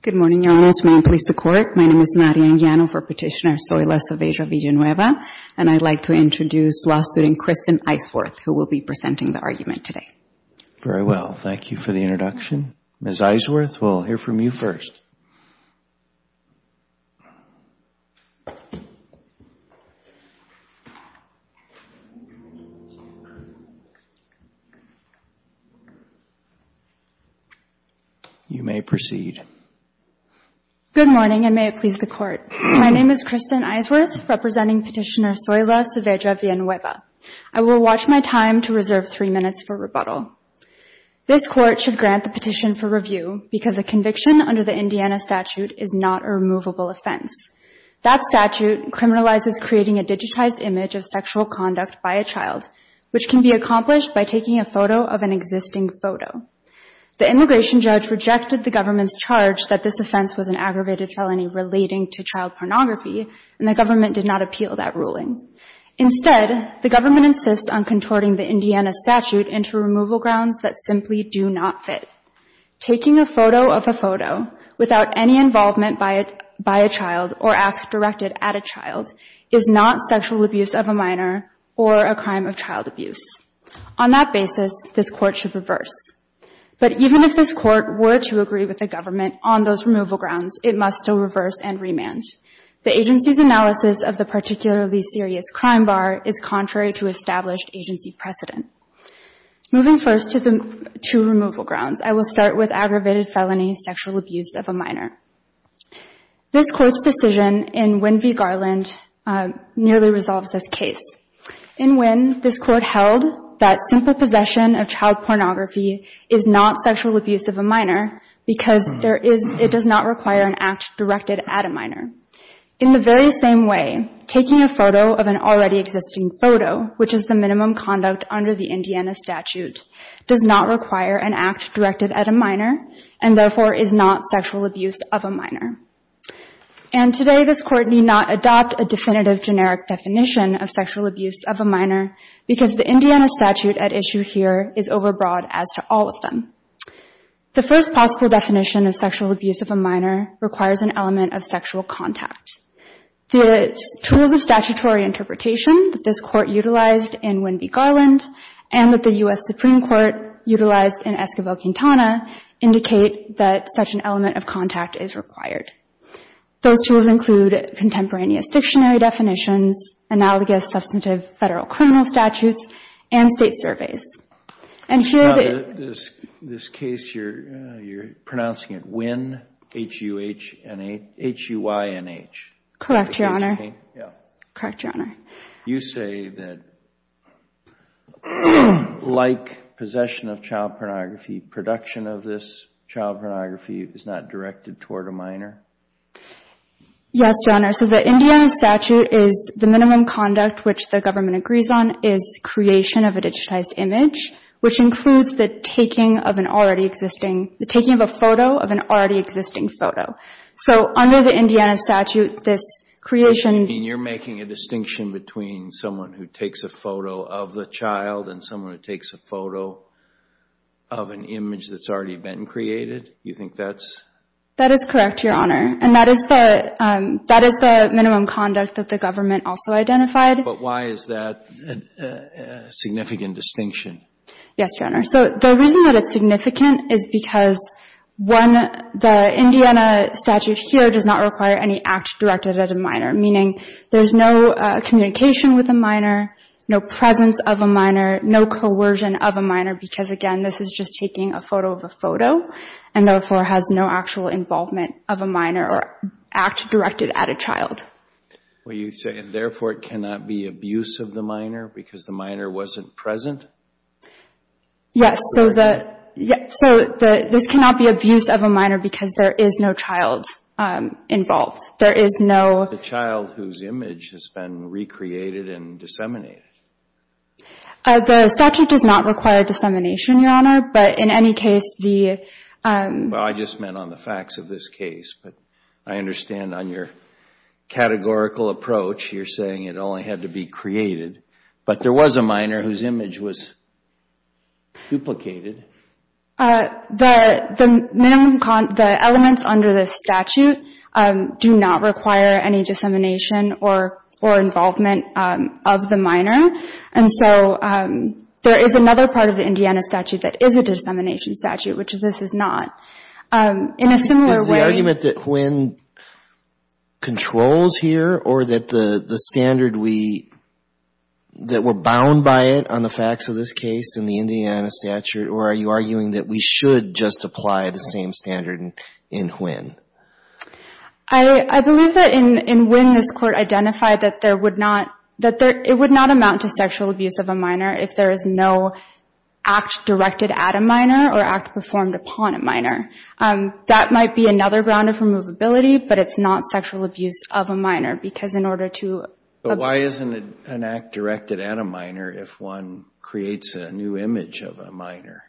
Good morning, Your Honours. May it please the Court. My name is Marian Giano for Petitioner Soila Saavedra-Villanueva, and I'd like to introduce law student Kristen Eisworth, who will be presenting the argument today. Very well. Thank you for the introduction. Ms. Eisworth, we'll hear from you first. You may proceed. Good morning, and may it please the Court. My name is Kristen Eisworth, representing Petitioner Soila Saavedra-Villanueva. I will watch my time to reserve three minutes for rebuttal. This Court should grant the petition for review because a conviction under the Indiana statute is not a removable offense. That statute criminalizes creating a digitized image of sexual conduct by a child, which can be accomplished by taking a photo of an existing photo. The immigration judge rejected the government's charge that this offense was an aggravated felony relating to child pornography, and the government did not appeal that ruling. Instead, the government insists on contorting the Indiana statute into removal grounds that simply do not fit. Taking a photo of a photo without any involvement by a child or acts directed at a child is not sexual abuse of a minor or a crime of child abuse. On that basis, this Court should reverse. But even if this Court were to agree with the government on those removal grounds, it must still reverse and remand. The agency's analysis of the particularly serious crime bar is contrary to established agency precedent. Moving first to removal grounds, I will start with aggravated felony sexual abuse of a minor. This Court's decision in Winn v. Garland nearly resolves this case. In Winn, this Court held that simple possession of child pornography is not sexual abuse of a minor because it does not require an act directed at a minor. In the very same way, taking a photo of an already existing photo, which is the minimum conduct under the Indiana statute, does not require an act directed at a minor and therefore is not sexual abuse of a minor. And today this Court need not adopt a definitive generic definition of sexual abuse of a minor because the Indiana statute at issue here is overbroad as to all of them. The first possible definition of sexual abuse of a minor requires an element of sexual contact. The tools of statutory interpretation that this Court utilized in Winn v. Garland and that the U.S. Supreme Court utilized in Esquivel-Quintana indicate that such an element of contact is required. Those tools include contemporaneous dictionary definitions, analogous substantive federal criminal statutes, and state surveys. In this case, you're pronouncing it Winn, H-U-H, H-U-Y-N-H. Correct, Your Honor. Correct, Your Honor. You say that like possession of child pornography, production of this child pornography is not directed toward a minor? Yes, Your Honor. So the Indiana statute is the minimum conduct which the government agrees on is creation of a digitized image, which includes the taking of an already existing, the taking of a photo of an already existing photo. So under the Indiana statute, this creation. You're making a distinction between someone who takes a photo of the child and someone who takes a photo of an image that's already been created? You think that's? That is correct, Your Honor. And that is the minimum conduct that the government also identified. But why is that a significant distinction? Yes, Your Honor. So the reason that it's significant is because, one, the Indiana statute here does not require any act directed at a minor, meaning there's no communication with a minor, no presence of a minor, no coercion of a minor because, again, this is just taking a photo of a photo and therefore has no actual involvement of a minor or act directed at a child. What are you saying? Therefore, it cannot be abuse of the minor because the minor wasn't present? Yes. So this cannot be abuse of a minor because there is no child involved. There is no... The child whose image has been recreated and disseminated. The statute does not require dissemination, Your Honor, but in any case, the... Well, I just meant on the facts of this case, but I understand on your categorical approach you're saying it only had to be created, but there was a minor whose image was duplicated. The minimum, the elements under this statute do not require any dissemination or involvement of the minor, and so there is another part of the Indiana statute that is a dissemination statute, which this is not. In a similar way... Is the argument that Nguyen controls here or that the standard we, that we're bound by it on the facts of this case in the Indiana statute, or are you arguing that we should just apply the same standard in Nguyen? I believe that in Nguyen this Court identified that there would not, that it would not amount to sexual abuse of a minor if there is no act directed at a minor or act performed upon a minor. That might be another ground of removability, but it's not sexual abuse of a minor because in order to... But why isn't an act directed at a minor if one creates a new image of a minor?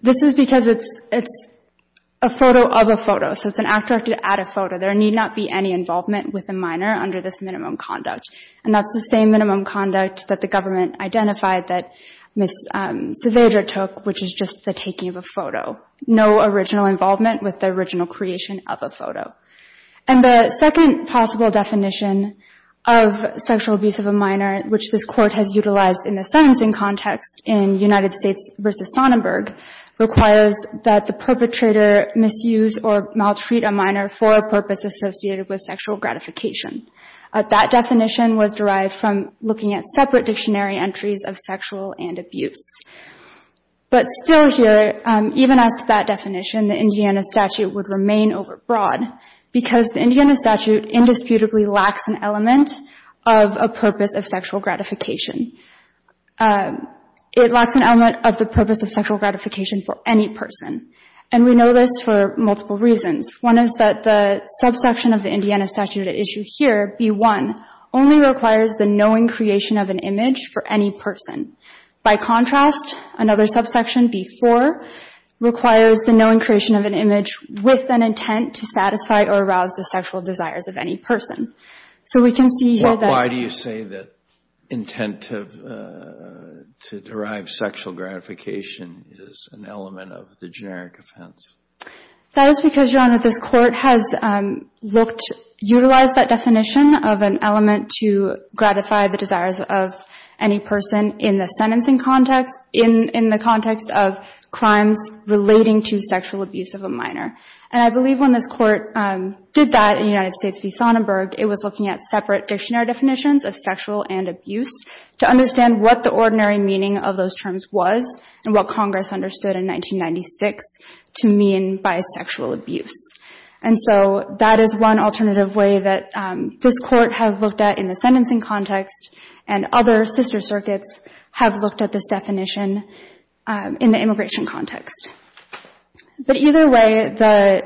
This is because it's a photo of a photo, so it's an act directed at a photo. There need not be any involvement with a minor under this minimum conduct, and that's the same minimum conduct that the government identified that Ms. Saavedra took, which is just the taking of a photo. No original involvement with the original creation of a photo. And the second possible definition of sexual abuse of a minor, which this Court has utilized in the sentencing context in United States v. Sonnenberg, requires that the perpetrator misuse or maltreat a minor for a purpose associated with sexual gratification. That definition was derived from looking at separate dictionary entries of sexual and abuse. But still here, even as to that definition, the Indiana statute would remain overbroad because the Indiana statute indisputably lacks an element of a purpose of sexual gratification. It lacks an element of the purpose of sexual gratification for any person, and we know this for multiple reasons. One is that the subsection of the Indiana statute at issue here, B-1, only requires the knowing creation of an image for any person. By contrast, another subsection, B-4, requires the knowing creation of an image with an intent to satisfy or arouse the sexual desires of any person. So we can see here that... Why do you say that intent to derive sexual gratification is an element of the generic offense? That is because, Your Honor, this Court has looked... utilized that definition of an element to gratify the desires of any person in the sentencing context, in the context of crimes relating to sexual abuse of a minor. And I believe when this Court did that in the United States v. Sonnenberg, it was looking at separate dictionary definitions of sexual and abuse to understand what the ordinary meaning of those terms was and what Congress understood in 1996 to mean by sexual abuse. And so that is one alternative way that this Court has looked at in the sentencing context, and other sister circuits have looked at this definition in the immigration context. But either way, the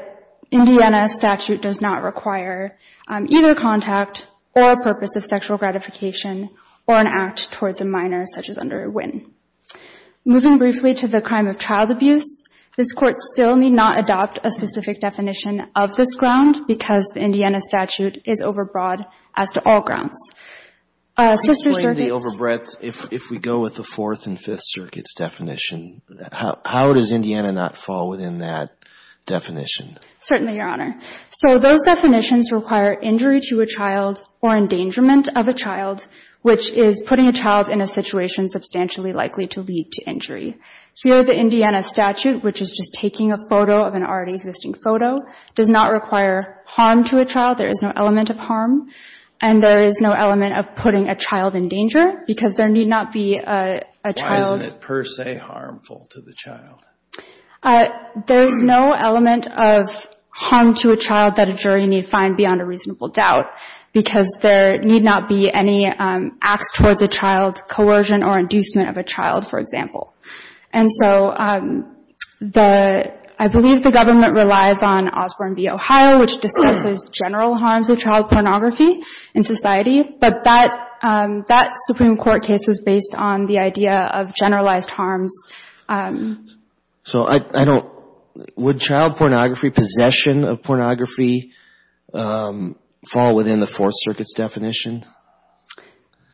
Indiana statute does not require either contact or a purpose of sexual gratification or an act towards a minor, such as under Wynne. Moving briefly to the crime of child abuse, this Court still need not adopt a specific definition of this ground because the Indiana statute is overbroad as to all grounds. Sister circuits... Explain the overbreadth. If we go with the Fourth and Fifth Circuits definition, how does Indiana not fall within that definition? Certainly, Your Honor. So those definitions require injury to a child or endangerment of a child, which is putting a child in a situation substantially likely to lead to injury. Here, the Indiana statute, which is just taking a photo of an already existing photo, does not require harm to a child. There is no element of harm. And there is no element of putting a child in danger because there need not be a child... Why isn't it per se harmful to the child? There is no element of harm to a child that a jury need find beyond a reasonable doubt because there need not be any acts towards a child, coercion or inducement of a child, for example. And so the... I believe the government relies on Osborne v. Ohio, which discusses general harms of child pornography in society. But that Supreme Court case was based on the idea of generalized harms. So I don't... Would child pornography, possession of pornography, fall within the Fourth Circuit's definition?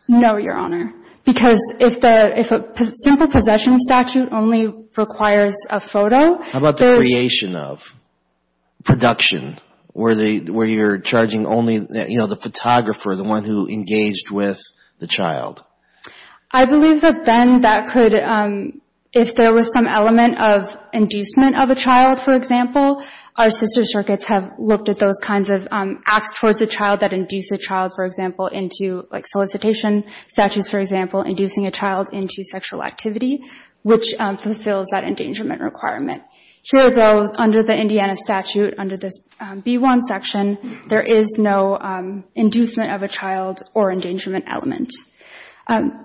No, Your Honor, because if a simple possession statute only requires a photo... How about the creation of, production, where you're charging only the photographer, the one who engaged with the child? I believe that then that could... If there was some element of inducement of a child, for example, our sister circuits have looked at those kinds of acts towards a child that induce a child, for example, into solicitation statutes, for example, inducing a child into sexual activity, which fulfills that endangerment requirement. Here, though, under the Indiana statute, under this B-1 section, there is no inducement of a child or endangerment element.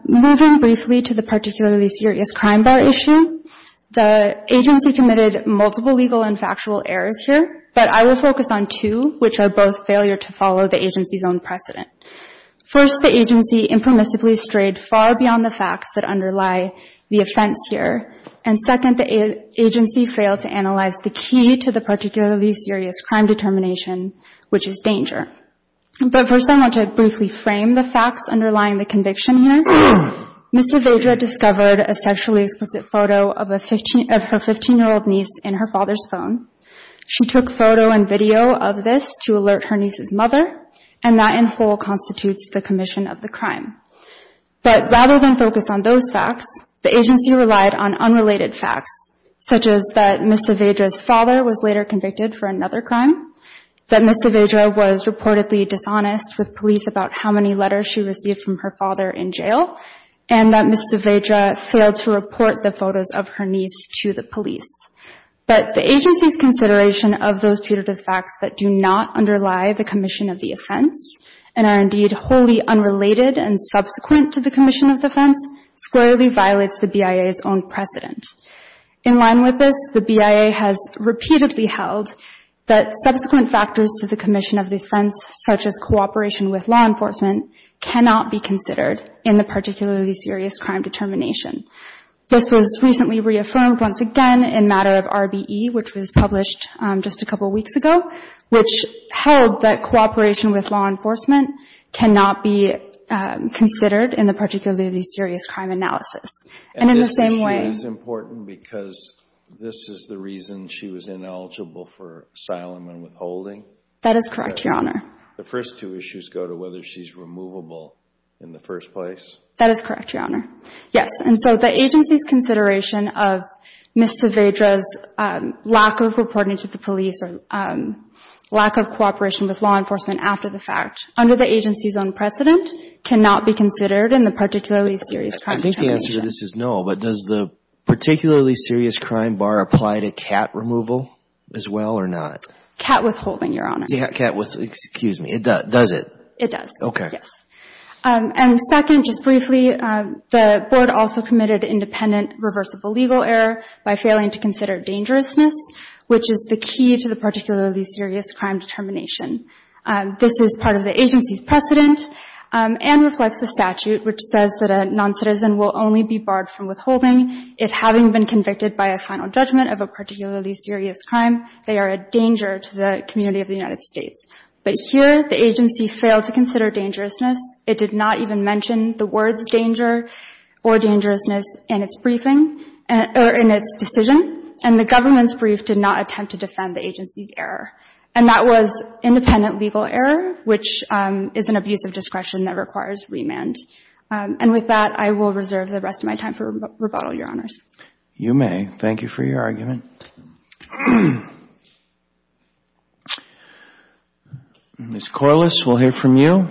Moving briefly to the particularly serious crime bar issue, the agency committed multiple legal and factual errors here, but I will focus on two, which are both failure to follow the agency's own precedent. First, the agency impermissibly strayed far beyond the facts that underlie the offense here, and second, the agency failed to analyze the key to the particularly serious crime determination, which is danger. But first I want to briefly frame the facts underlying the conviction here. Ms. LaVeidra discovered a sexually explicit photo of her 15-year-old niece in her father's phone. She took photo and video of this to alert her niece's mother, and that in whole constitutes the commission of the crime. But rather than focus on those facts, the agency relied on unrelated facts, such as that Ms. LaVeidra's father was later convicted for another crime, that Ms. LaVeidra was reportedly dishonest with police about how many letters she received from her father in jail, and that Ms. LaVeidra failed to report the photos of her niece to the police. But the agency's consideration of those punitive facts that do not underlie the commission of the offense and are indeed wholly unrelated and subsequent to the commission of the offense squarely violates the BIA's own precedent. In line with this, the BIA has repeatedly held that subsequent factors to the commission of the offense, such as cooperation with law enforcement, cannot be considered in the particularly serious crime determination. This was recently reaffirmed once again in a matter of RBE, which was published just a couple weeks ago, which held that cooperation with law enforcement cannot be considered in the particularly serious crime analysis. And in the same way... That is correct, Your Honor. The first two issues go to whether she's removable in the first place. That is correct, Your Honor. Yes, and so the agency's consideration of Ms. LaVeidra's lack of reporting to the police or lack of cooperation with law enforcement after the fact under the agency's own precedent cannot be considered in the particularly serious crime determination. I think the answer to this is no, but does the particularly serious crime bar apply to cat removal as well or not? Cat withholding, Your Honor. Cat withholding. Excuse me. Does it? It does. Okay. Yes. And second, just briefly, the board also committed independent reversible legal error by failing to consider dangerousness, which is the key to the particularly serious crime determination. This is part of the agency's precedent and reflects the statute, which says that a noncitizen will only be barred from withholding if having been convicted by a final judgment of a particularly serious crime they are a danger to the community of the United States. But here, the agency failed to consider dangerousness. It did not even mention the words danger or dangerousness in its briefing or in its decision, and the government's brief did not attempt to defend the agency's error. And that was independent legal error, which is an abuse of discretion that requires remand. And with that, I will reserve the rest of my time for rebuttal, Your Honors. You may. Thank you for your argument. Ms. Corliss, we'll hear from you.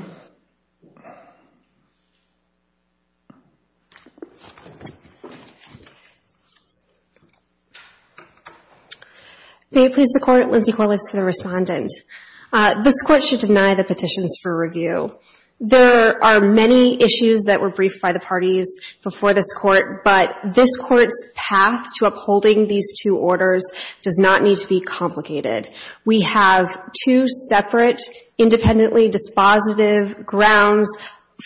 May it please the Court, Lindsay Corliss for the Respondent. This Court should deny the petitions for review. There are many issues that were briefed by the parties before this Court, but this Court's path to upholding these two orders does not need to be complicated. We have two separate independently dispositive grounds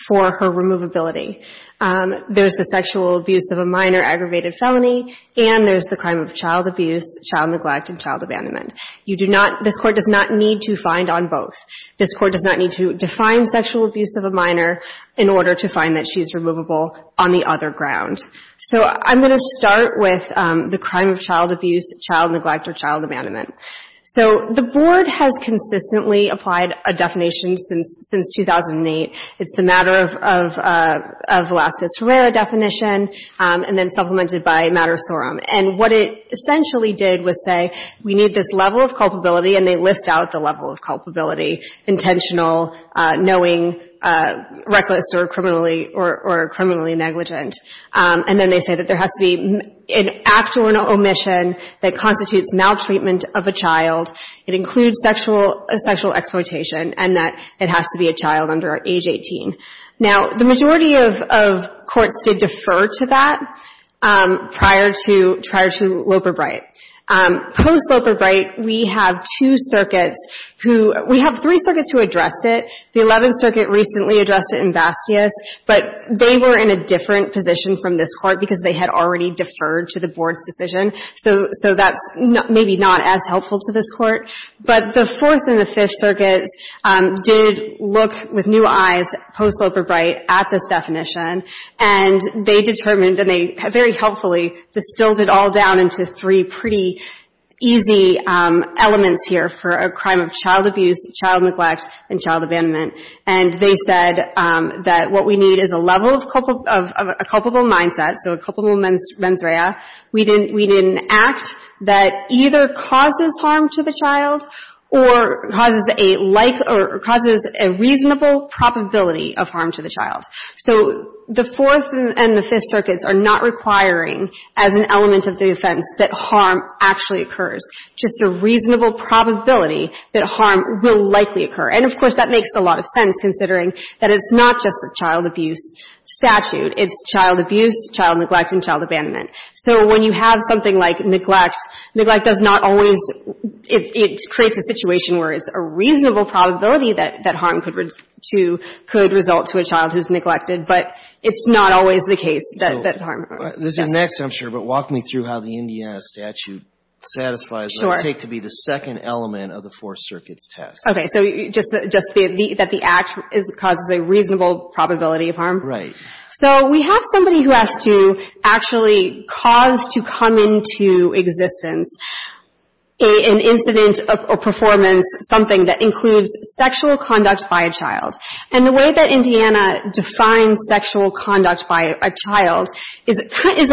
for her removability. There's the sexual abuse of a minor aggravated felony, and there's the crime of child abuse, child neglect, and child abandonment. You do not — this Court does not need to find on both. This Court does not need to define sexual abuse of a minor in order to find that she's removable on the other ground. So I'm going to start with the crime of child abuse, child neglect, or child abandonment. So the Board has consistently applied a definition since 2008. It's the matter of Velazquez-Herrera definition, and then supplemented by matter sorum. And what it essentially did was say we need this level of culpability, and they list out the level of culpability, intentional, knowing, reckless, or criminally — or criminally negligent. And then they say that there has to be an act or an omission that constitutes maltreatment of a child. It includes sexual — sexual exploitation, and that it has to be a child under age 18. Now, the majority of — of courts did defer to that prior to — prior to Loper-Bright. Post-Loper-Bright, we have two circuits who — we have three circuits who addressed it. The Eleventh Circuit recently addressed it in Bastias, but they were in a different position from this Court because they had already deferred to the Board's decision. So — so that's maybe not as helpful to this Court. But the Fourth and the Fifth Circuits did look with new eyes post-Loper-Bright at this definition, and they determined, and they very helpfully distilled it all down to three pretty easy elements here for a crime of child abuse, child neglect, and child abandonment. And they said that what we need is a level of culpable — of a culpable mindset, so a culpable mens rea. We need an act that either causes harm to the child or causes a like — or causes a reasonable probability of harm to the child. So the Fourth and the Fifth Circuits are not requiring as an element of the offense that harm actually occurs, just a reasonable probability that harm will likely occur. And, of course, that makes a lot of sense considering that it's not just a child abuse statute. It's child abuse, child neglect, and child abandonment. So when you have something like neglect, neglect does not always — it creates a situation where it's a reasonable probability that harm could result to a child who's neglected, but it's not always the case that harm occurs. Yes? This is next, I'm sure, but walk me through how the Indiana statute satisfies what it would take to be the second element of the Fourth Circuit's test. Okay. So just that the act causes a reasonable probability of harm? Right. So we have somebody who has to actually cause to come into existence an incident or performance, something that includes sexual conduct by a child. And the way that Indiana defines sexual conduct by a child is a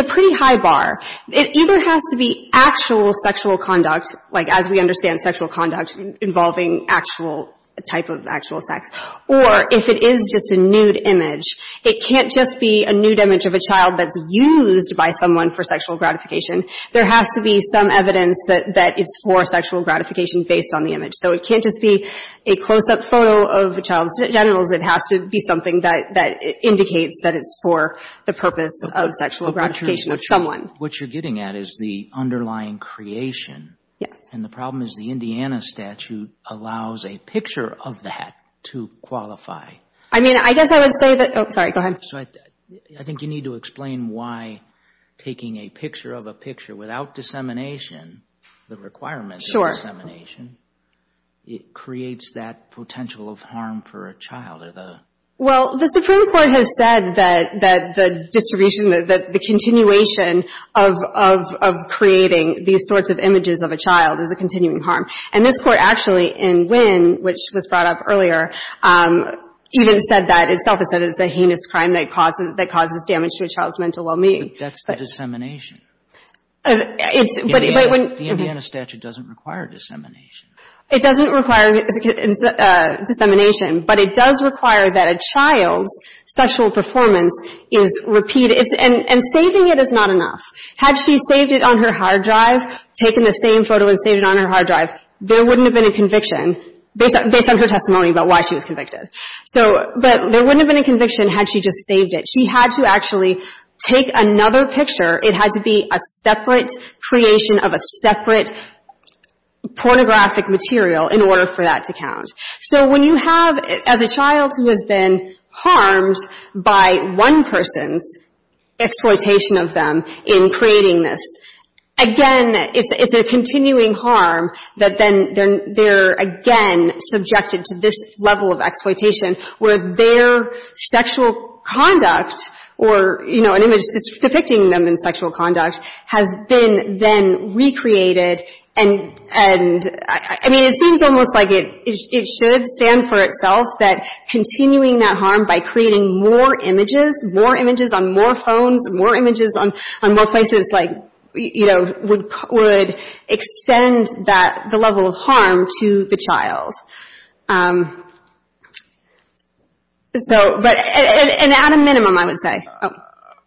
pretty high bar. It either has to be actual sexual conduct, like as we understand sexual conduct involving actual — a type of actual sex, or if it is just a nude image, it can't just be a nude image of a child that's used by someone for sexual gratification. There has to be some evidence that it's for sexual gratification based on the image. So it can't just be a close-up photo of a child's genitals. It has to be something that indicates that it's for the purpose of sexual gratification of someone. What you're getting at is the underlying creation. Yes. And the problem is the Indiana statute allows a picture of that to qualify. I mean, I guess I would say that — oh, sorry, go ahead. I think you need to explain why taking a picture of a picture without dissemination, the requirement of dissemination, it creates that potential of harm for a child. Well, the Supreme Court has said that the distribution, the continuation of creating these sorts of images of a child is a continuing harm. And this Court actually in Wynn, which was brought up earlier, even said that itself. It said it's a heinous crime that causes damage to a child's mental well-being. But that's the dissemination. The Indiana statute doesn't require dissemination. It doesn't require dissemination. But it does require that a child's sexual performance is repeated. And saving it is not enough. Had she saved it on her hard drive, taken the same photo and saved it on her hard drive, there wouldn't have been a conviction based on her testimony about why she was convicted. So — but there wouldn't have been a conviction had she just saved it. She had to actually take another picture. It had to be a separate creation of a separate pornographic material in order for that to count. So when you have, as a child who has been harmed by one person's exploitation of them in creating this, again, it's a continuing harm that then they're again subjected to this level of exploitation where their sexual conduct or, you know, an image depicting them in sexual conduct has been then recreated. And, I mean, it seems almost like it should stand for itself that continuing that harm by creating more images, more images on more phones, more images on more places, like, you know, would extend the level of harm to the child. So — and at a minimum, I would say.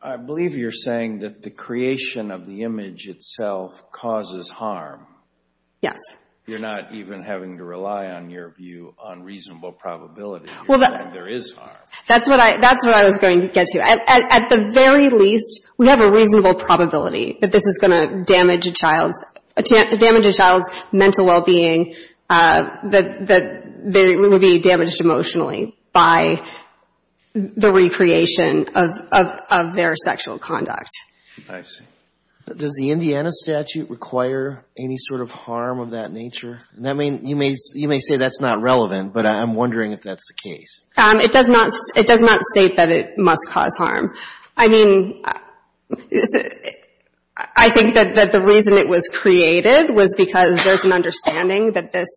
I believe you're saying that the creation of the image itself causes harm. Yes. You're not even having to rely on your view on reasonable probability. You're saying there is harm. That's what I was going to get to. At the very least, we have a reasonable probability that this is going to damage a child's mental well-being, that they would be damaged emotionally by the recreation of their sexual conduct. I see. Does the Indiana statute require any sort of harm of that nature? You may say that's not relevant, but I'm wondering if that's the case. It does not — it does not state that it must cause harm. I mean, I think that the reason it was created was because there's an understanding that this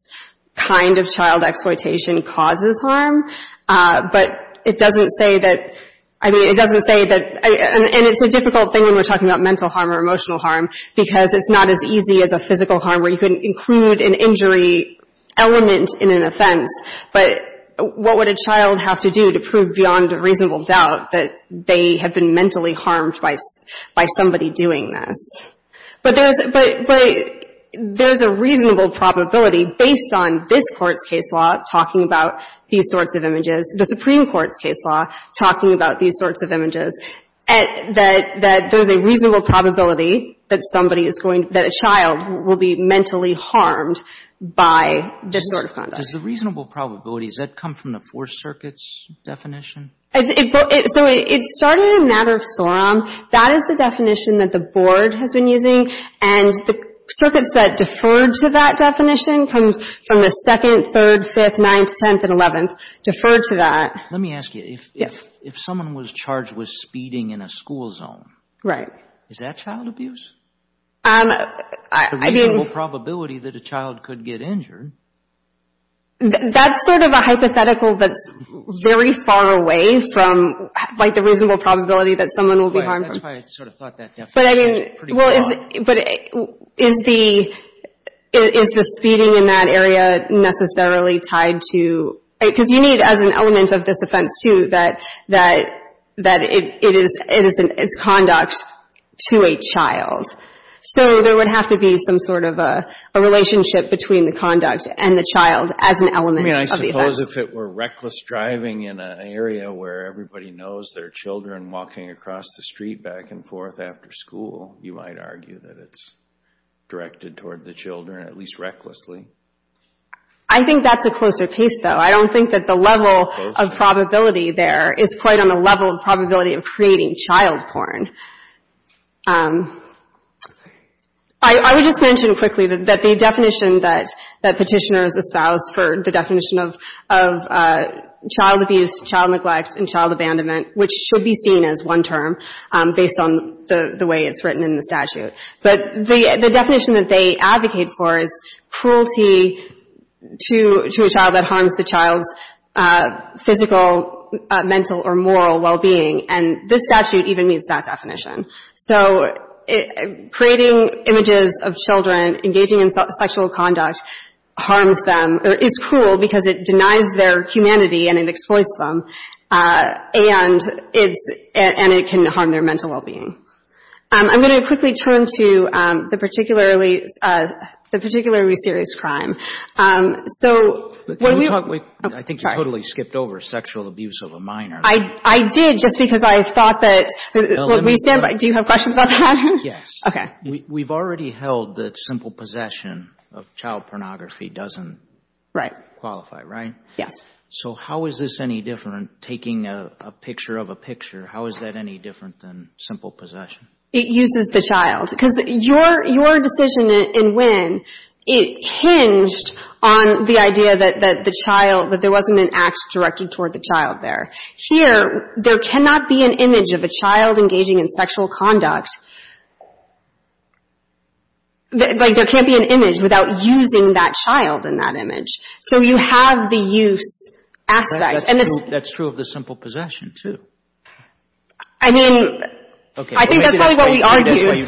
kind of child exploitation causes harm, but it doesn't say that — I mean, it doesn't say that — and it's a difficult thing when we're talking about mental harm or emotional harm because it's not as easy as a physical harm where you can include an injury element in an offense. But what would a child have to do to prove beyond a reasonable doubt that they have been mentally harmed by somebody doing this? But there's a reasonable probability, based on this Court's case law talking about these sorts of images, the Supreme Court's case law talking about these sorts of images, that there's a reasonable probability that somebody is going — that a child will be mentally harmed by this sort of conduct. Does the reasonable probability, does that come from the Fourth Circuit's definition? So it started in a matter of sorum. That is the definition that the Board has been using, and the circuits that deferred to that definition comes from the 2nd, 3rd, 5th, 9th, 10th, and 11th, deferred to that. Let me ask you. Yes. If someone was charged with speeding in a school zone. Right. Is that child abuse? I mean — The reasonable probability that a child could get injured. That's sort of a hypothetical that's very far away from, like, the reasonable probability that someone will be harmed. Right. That's why I sort of thought that definition was pretty broad. But, I mean, well, is the — is the speeding in that area necessarily tied to — Because you need, as an element of this offense, too, that it is conduct to a child. So there would have to be some sort of a relationship between the conduct and the child as an element of the offense. I mean, I suppose if it were reckless driving in an area where everybody knows there are children walking across the street back and forth after school, you might argue that it's directed toward the children, at least recklessly. I think that's a closer case, though. I don't think that the level of probability there is quite on the level of probability of creating child porn. I would just mention quickly that the definition that Petitioners espoused for the definition of child abuse, child neglect, and child abandonment, which should be seen as one term based on the way it's written in the statute. But the definition that they advocate for is cruelty to a child that harms the child's physical, mental, or moral well-being. And this statute even meets that definition. So creating images of children engaging in sexual conduct harms them, or is cruel, because it denies their humanity and it exploits them, and it's — and it can harm their mental well-being. I'm going to quickly turn to the particularly serious crime. So when we — Can we talk — I think you totally skipped over sexual abuse of a minor. I did, just because I thought that — do you have questions about that? Yes. Okay. We've already held that simple possession of child pornography doesn't qualify, right? Right. Yes. So how is this any different, taking a picture of a picture? How is that any different than simple possession? It uses the child. Because your decision in Wynne, it hinged on the idea that the child — that there wasn't an act directed toward the child there. Here, there cannot be an image of a child engaging in sexual conduct — like, there can't be an image without using that child in that image. So you have the use aspect. That's true of the simple possession, too. I mean, I think that's probably what we argued,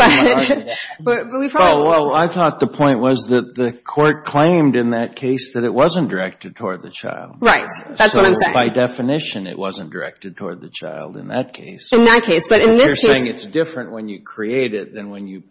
but we probably — Well, I thought the point was that the court claimed in that case that it wasn't directed toward the child. Right. That's what I'm saying. So by definition, it wasn't directed toward the child in that case. In that case, but in this case — But you're saying it's different when you create it than when you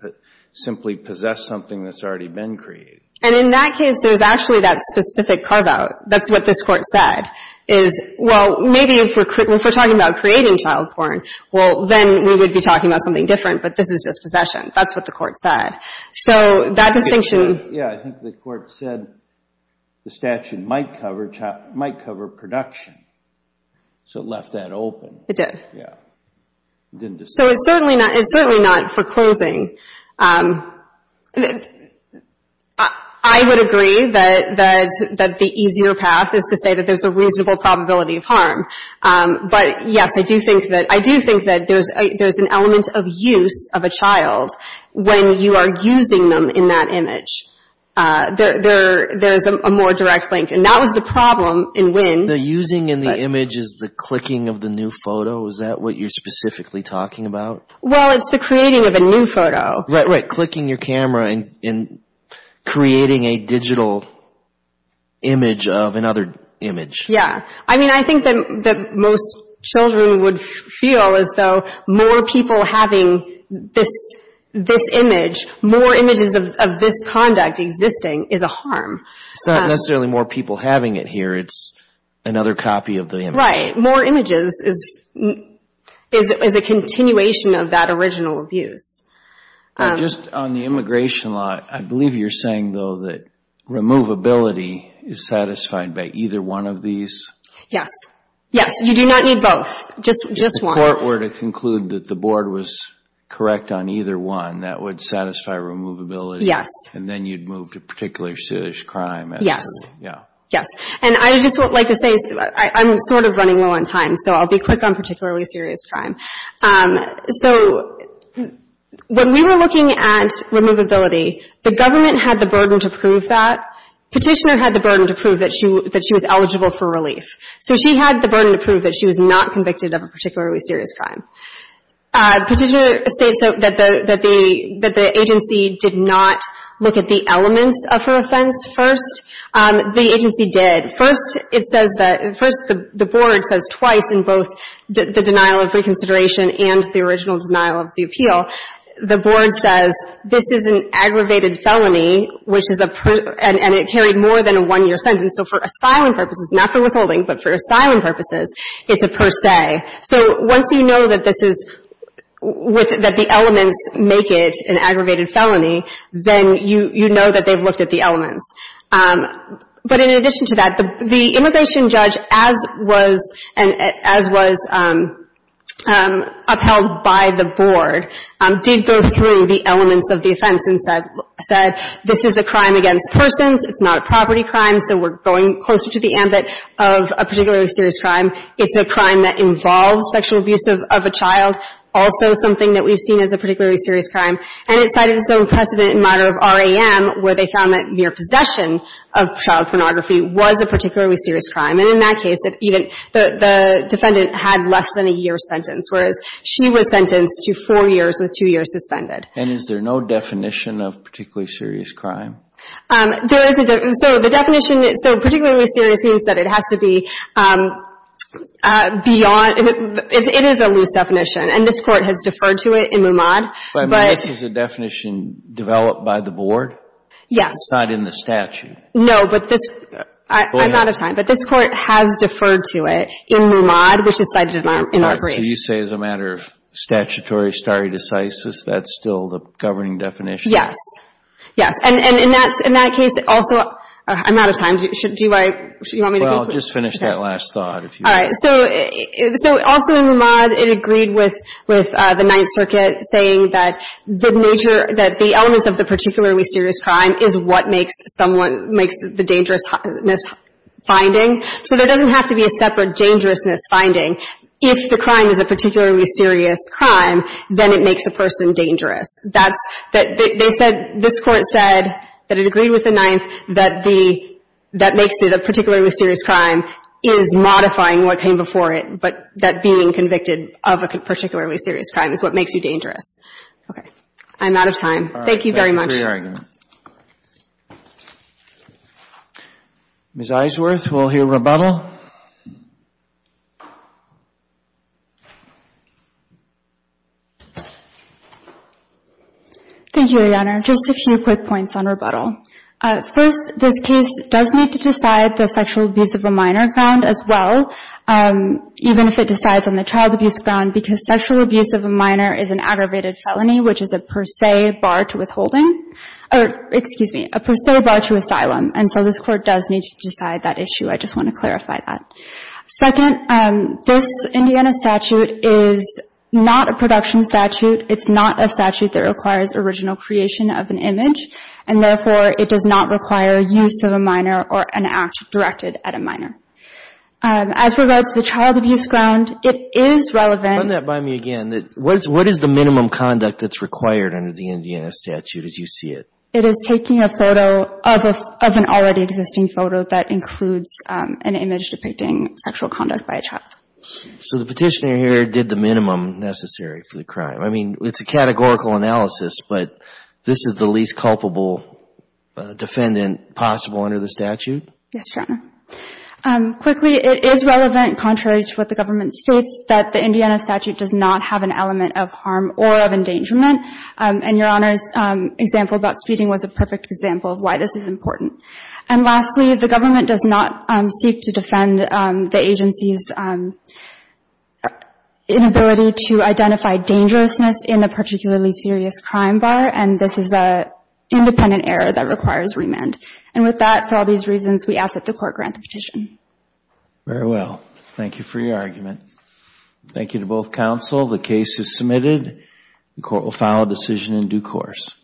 simply possess something that's already been created. And in that case, there's actually that specific carve-out. That's what this court said, is, well, maybe if we're talking about creating child porn, well, then we would be talking about something different, but this is just possession. That's what the court said. So that distinction — Yeah, I think the court said the statute might cover production. So it left that open. It did. Yeah. So it's certainly not for closing. I would agree that the easier path is to say that there's a reasonable probability of harm. But, yes, I do think that there's an element of use of a child when you are using them in that image. There is a more direct link, and that was the problem in Wynn. The using in the image is the clicking of the new photo? Is that what you're specifically talking about? Well, it's the creating of a new photo. Right, right. Clicking your camera and creating a digital image of another image. Yeah. I mean, I think that most children would feel as though more people having this image, more images of this conduct existing, is a harm. It's not necessarily more people having it here. It's another copy of the image. Right. More images is a continuation of that original abuse. Just on the immigration law, I believe you're saying, though, that removability is satisfied by either one of these? Yes. Yes. You do not need both. Just one. If the court were to conclude that the board was correct on either one, that would satisfy removability? Yes. And then you'd move to particularly serious crime? Yes. Yes. And I just would like to say, I'm sort of running low on time, so I'll be quick on particularly serious crime. So when we were looking at removability, the government had the burden to prove that. Petitioner had the burden to prove that she was eligible for relief. So she had the burden to prove that she was not convicted of a particularly serious crime. Petitioner states that the agency did not look at the elements of her offense first. The agency did. First, it says that the board says twice in both the denial of reconsideration and the original denial of the appeal, the board says this is an aggravated felony, and it carried more than a one-year sentence. So for asylum purposes, not for withholding, but for asylum purposes, it's a per se. So once you know that this is, that the elements make it an aggravated felony, then you know that they've looked at the elements. But in addition to that, the immigration judge, as was upheld by the board, did go through the elements of the offense and said this is a crime against persons, it's not a property crime, so we're going closer to the ambit of a particularly serious crime. It's a crime that involves sexual abuse of a child, also something that we've seen as a particularly serious crime. And it cited its own precedent in matter of RAM, where they found that mere possession of child pornography was a particularly serious crime. And in that case, even the defendant had less than a year's sentence, whereas she was sentenced to four years with two years suspended. And is there no definition of particularly serious crime? There is a definition. So the definition, so particularly serious means that it has to be beyond, it is a loose definition. And this Court has deferred to it in Mumad. But this is a definition developed by the board? Not in the statute? No. I'm out of time. But this Court has deferred to it in Mumad, which is cited in our brief. All right. So you say as a matter of statutory stare decisis, that's still the governing definition? Yes. Yes. And in that case, also, I'm out of time. Do you want me to go through? Well, just finish that last thought. All right. So also in Mumad, it agreed with the Ninth Circuit saying that the nature, that the elements of the particularly serious crime is what makes someone, makes the dangerousness finding. So there doesn't have to be a separate dangerousness finding. If the crime is a particularly serious crime, then it makes a person dangerous. That's, they said, this Court said that it agreed with the Ninth that the, that makes it a particularly serious crime is modifying what came before it, but that being convicted of a particularly serious crime is what makes you dangerous. Okay. I'm out of time. Thank you very much. Thank you for your argument. Ms. Isworth, we'll hear rebuttal. Thank you, Your Honor. Just a few quick points on rebuttal. First, this case does need to decide the sexual abuse of a minor ground as well, even if it decides on the child abuse ground, because sexual abuse of a minor is an aggravated felony, which is a per se bar to withholding, or excuse me, a per se bar to asylum. And so this Court does need to decide that issue. I just want to clarify that. Second, this Indiana statute is not a production statute. It's not a statute that requires original creation of an image. And therefore, it does not require use of a minor or an act directed at a minor. As regards to the child abuse ground, it is relevant. Run that by me again. What is the minimum conduct that's required under the Indiana statute as you see it? It is taking a photo of an already existing photo that includes an image depicting sexual conduct by a child. So the petitioner here did the minimum necessary for the crime. I mean, it's a categorical analysis, but this is the least culpable defendant possible under the statute? Yes, Your Honor. Quickly, it is relevant contrary to what the government states that the Indiana statute does not have an element of harm or of endangerment. And Your Honor's example about speeding was a perfect example of why this is important. And lastly, the government does not seek to defend the agency's inability to identify dangerousness in a particularly serious crime bar, and this is an independent error that requires remand. And with that, for all these reasons, we ask that the Court grant the petition. Very well. Thank you for your argument. Thank you to both counsel. The case is submitted. The Court will file a decision in due course.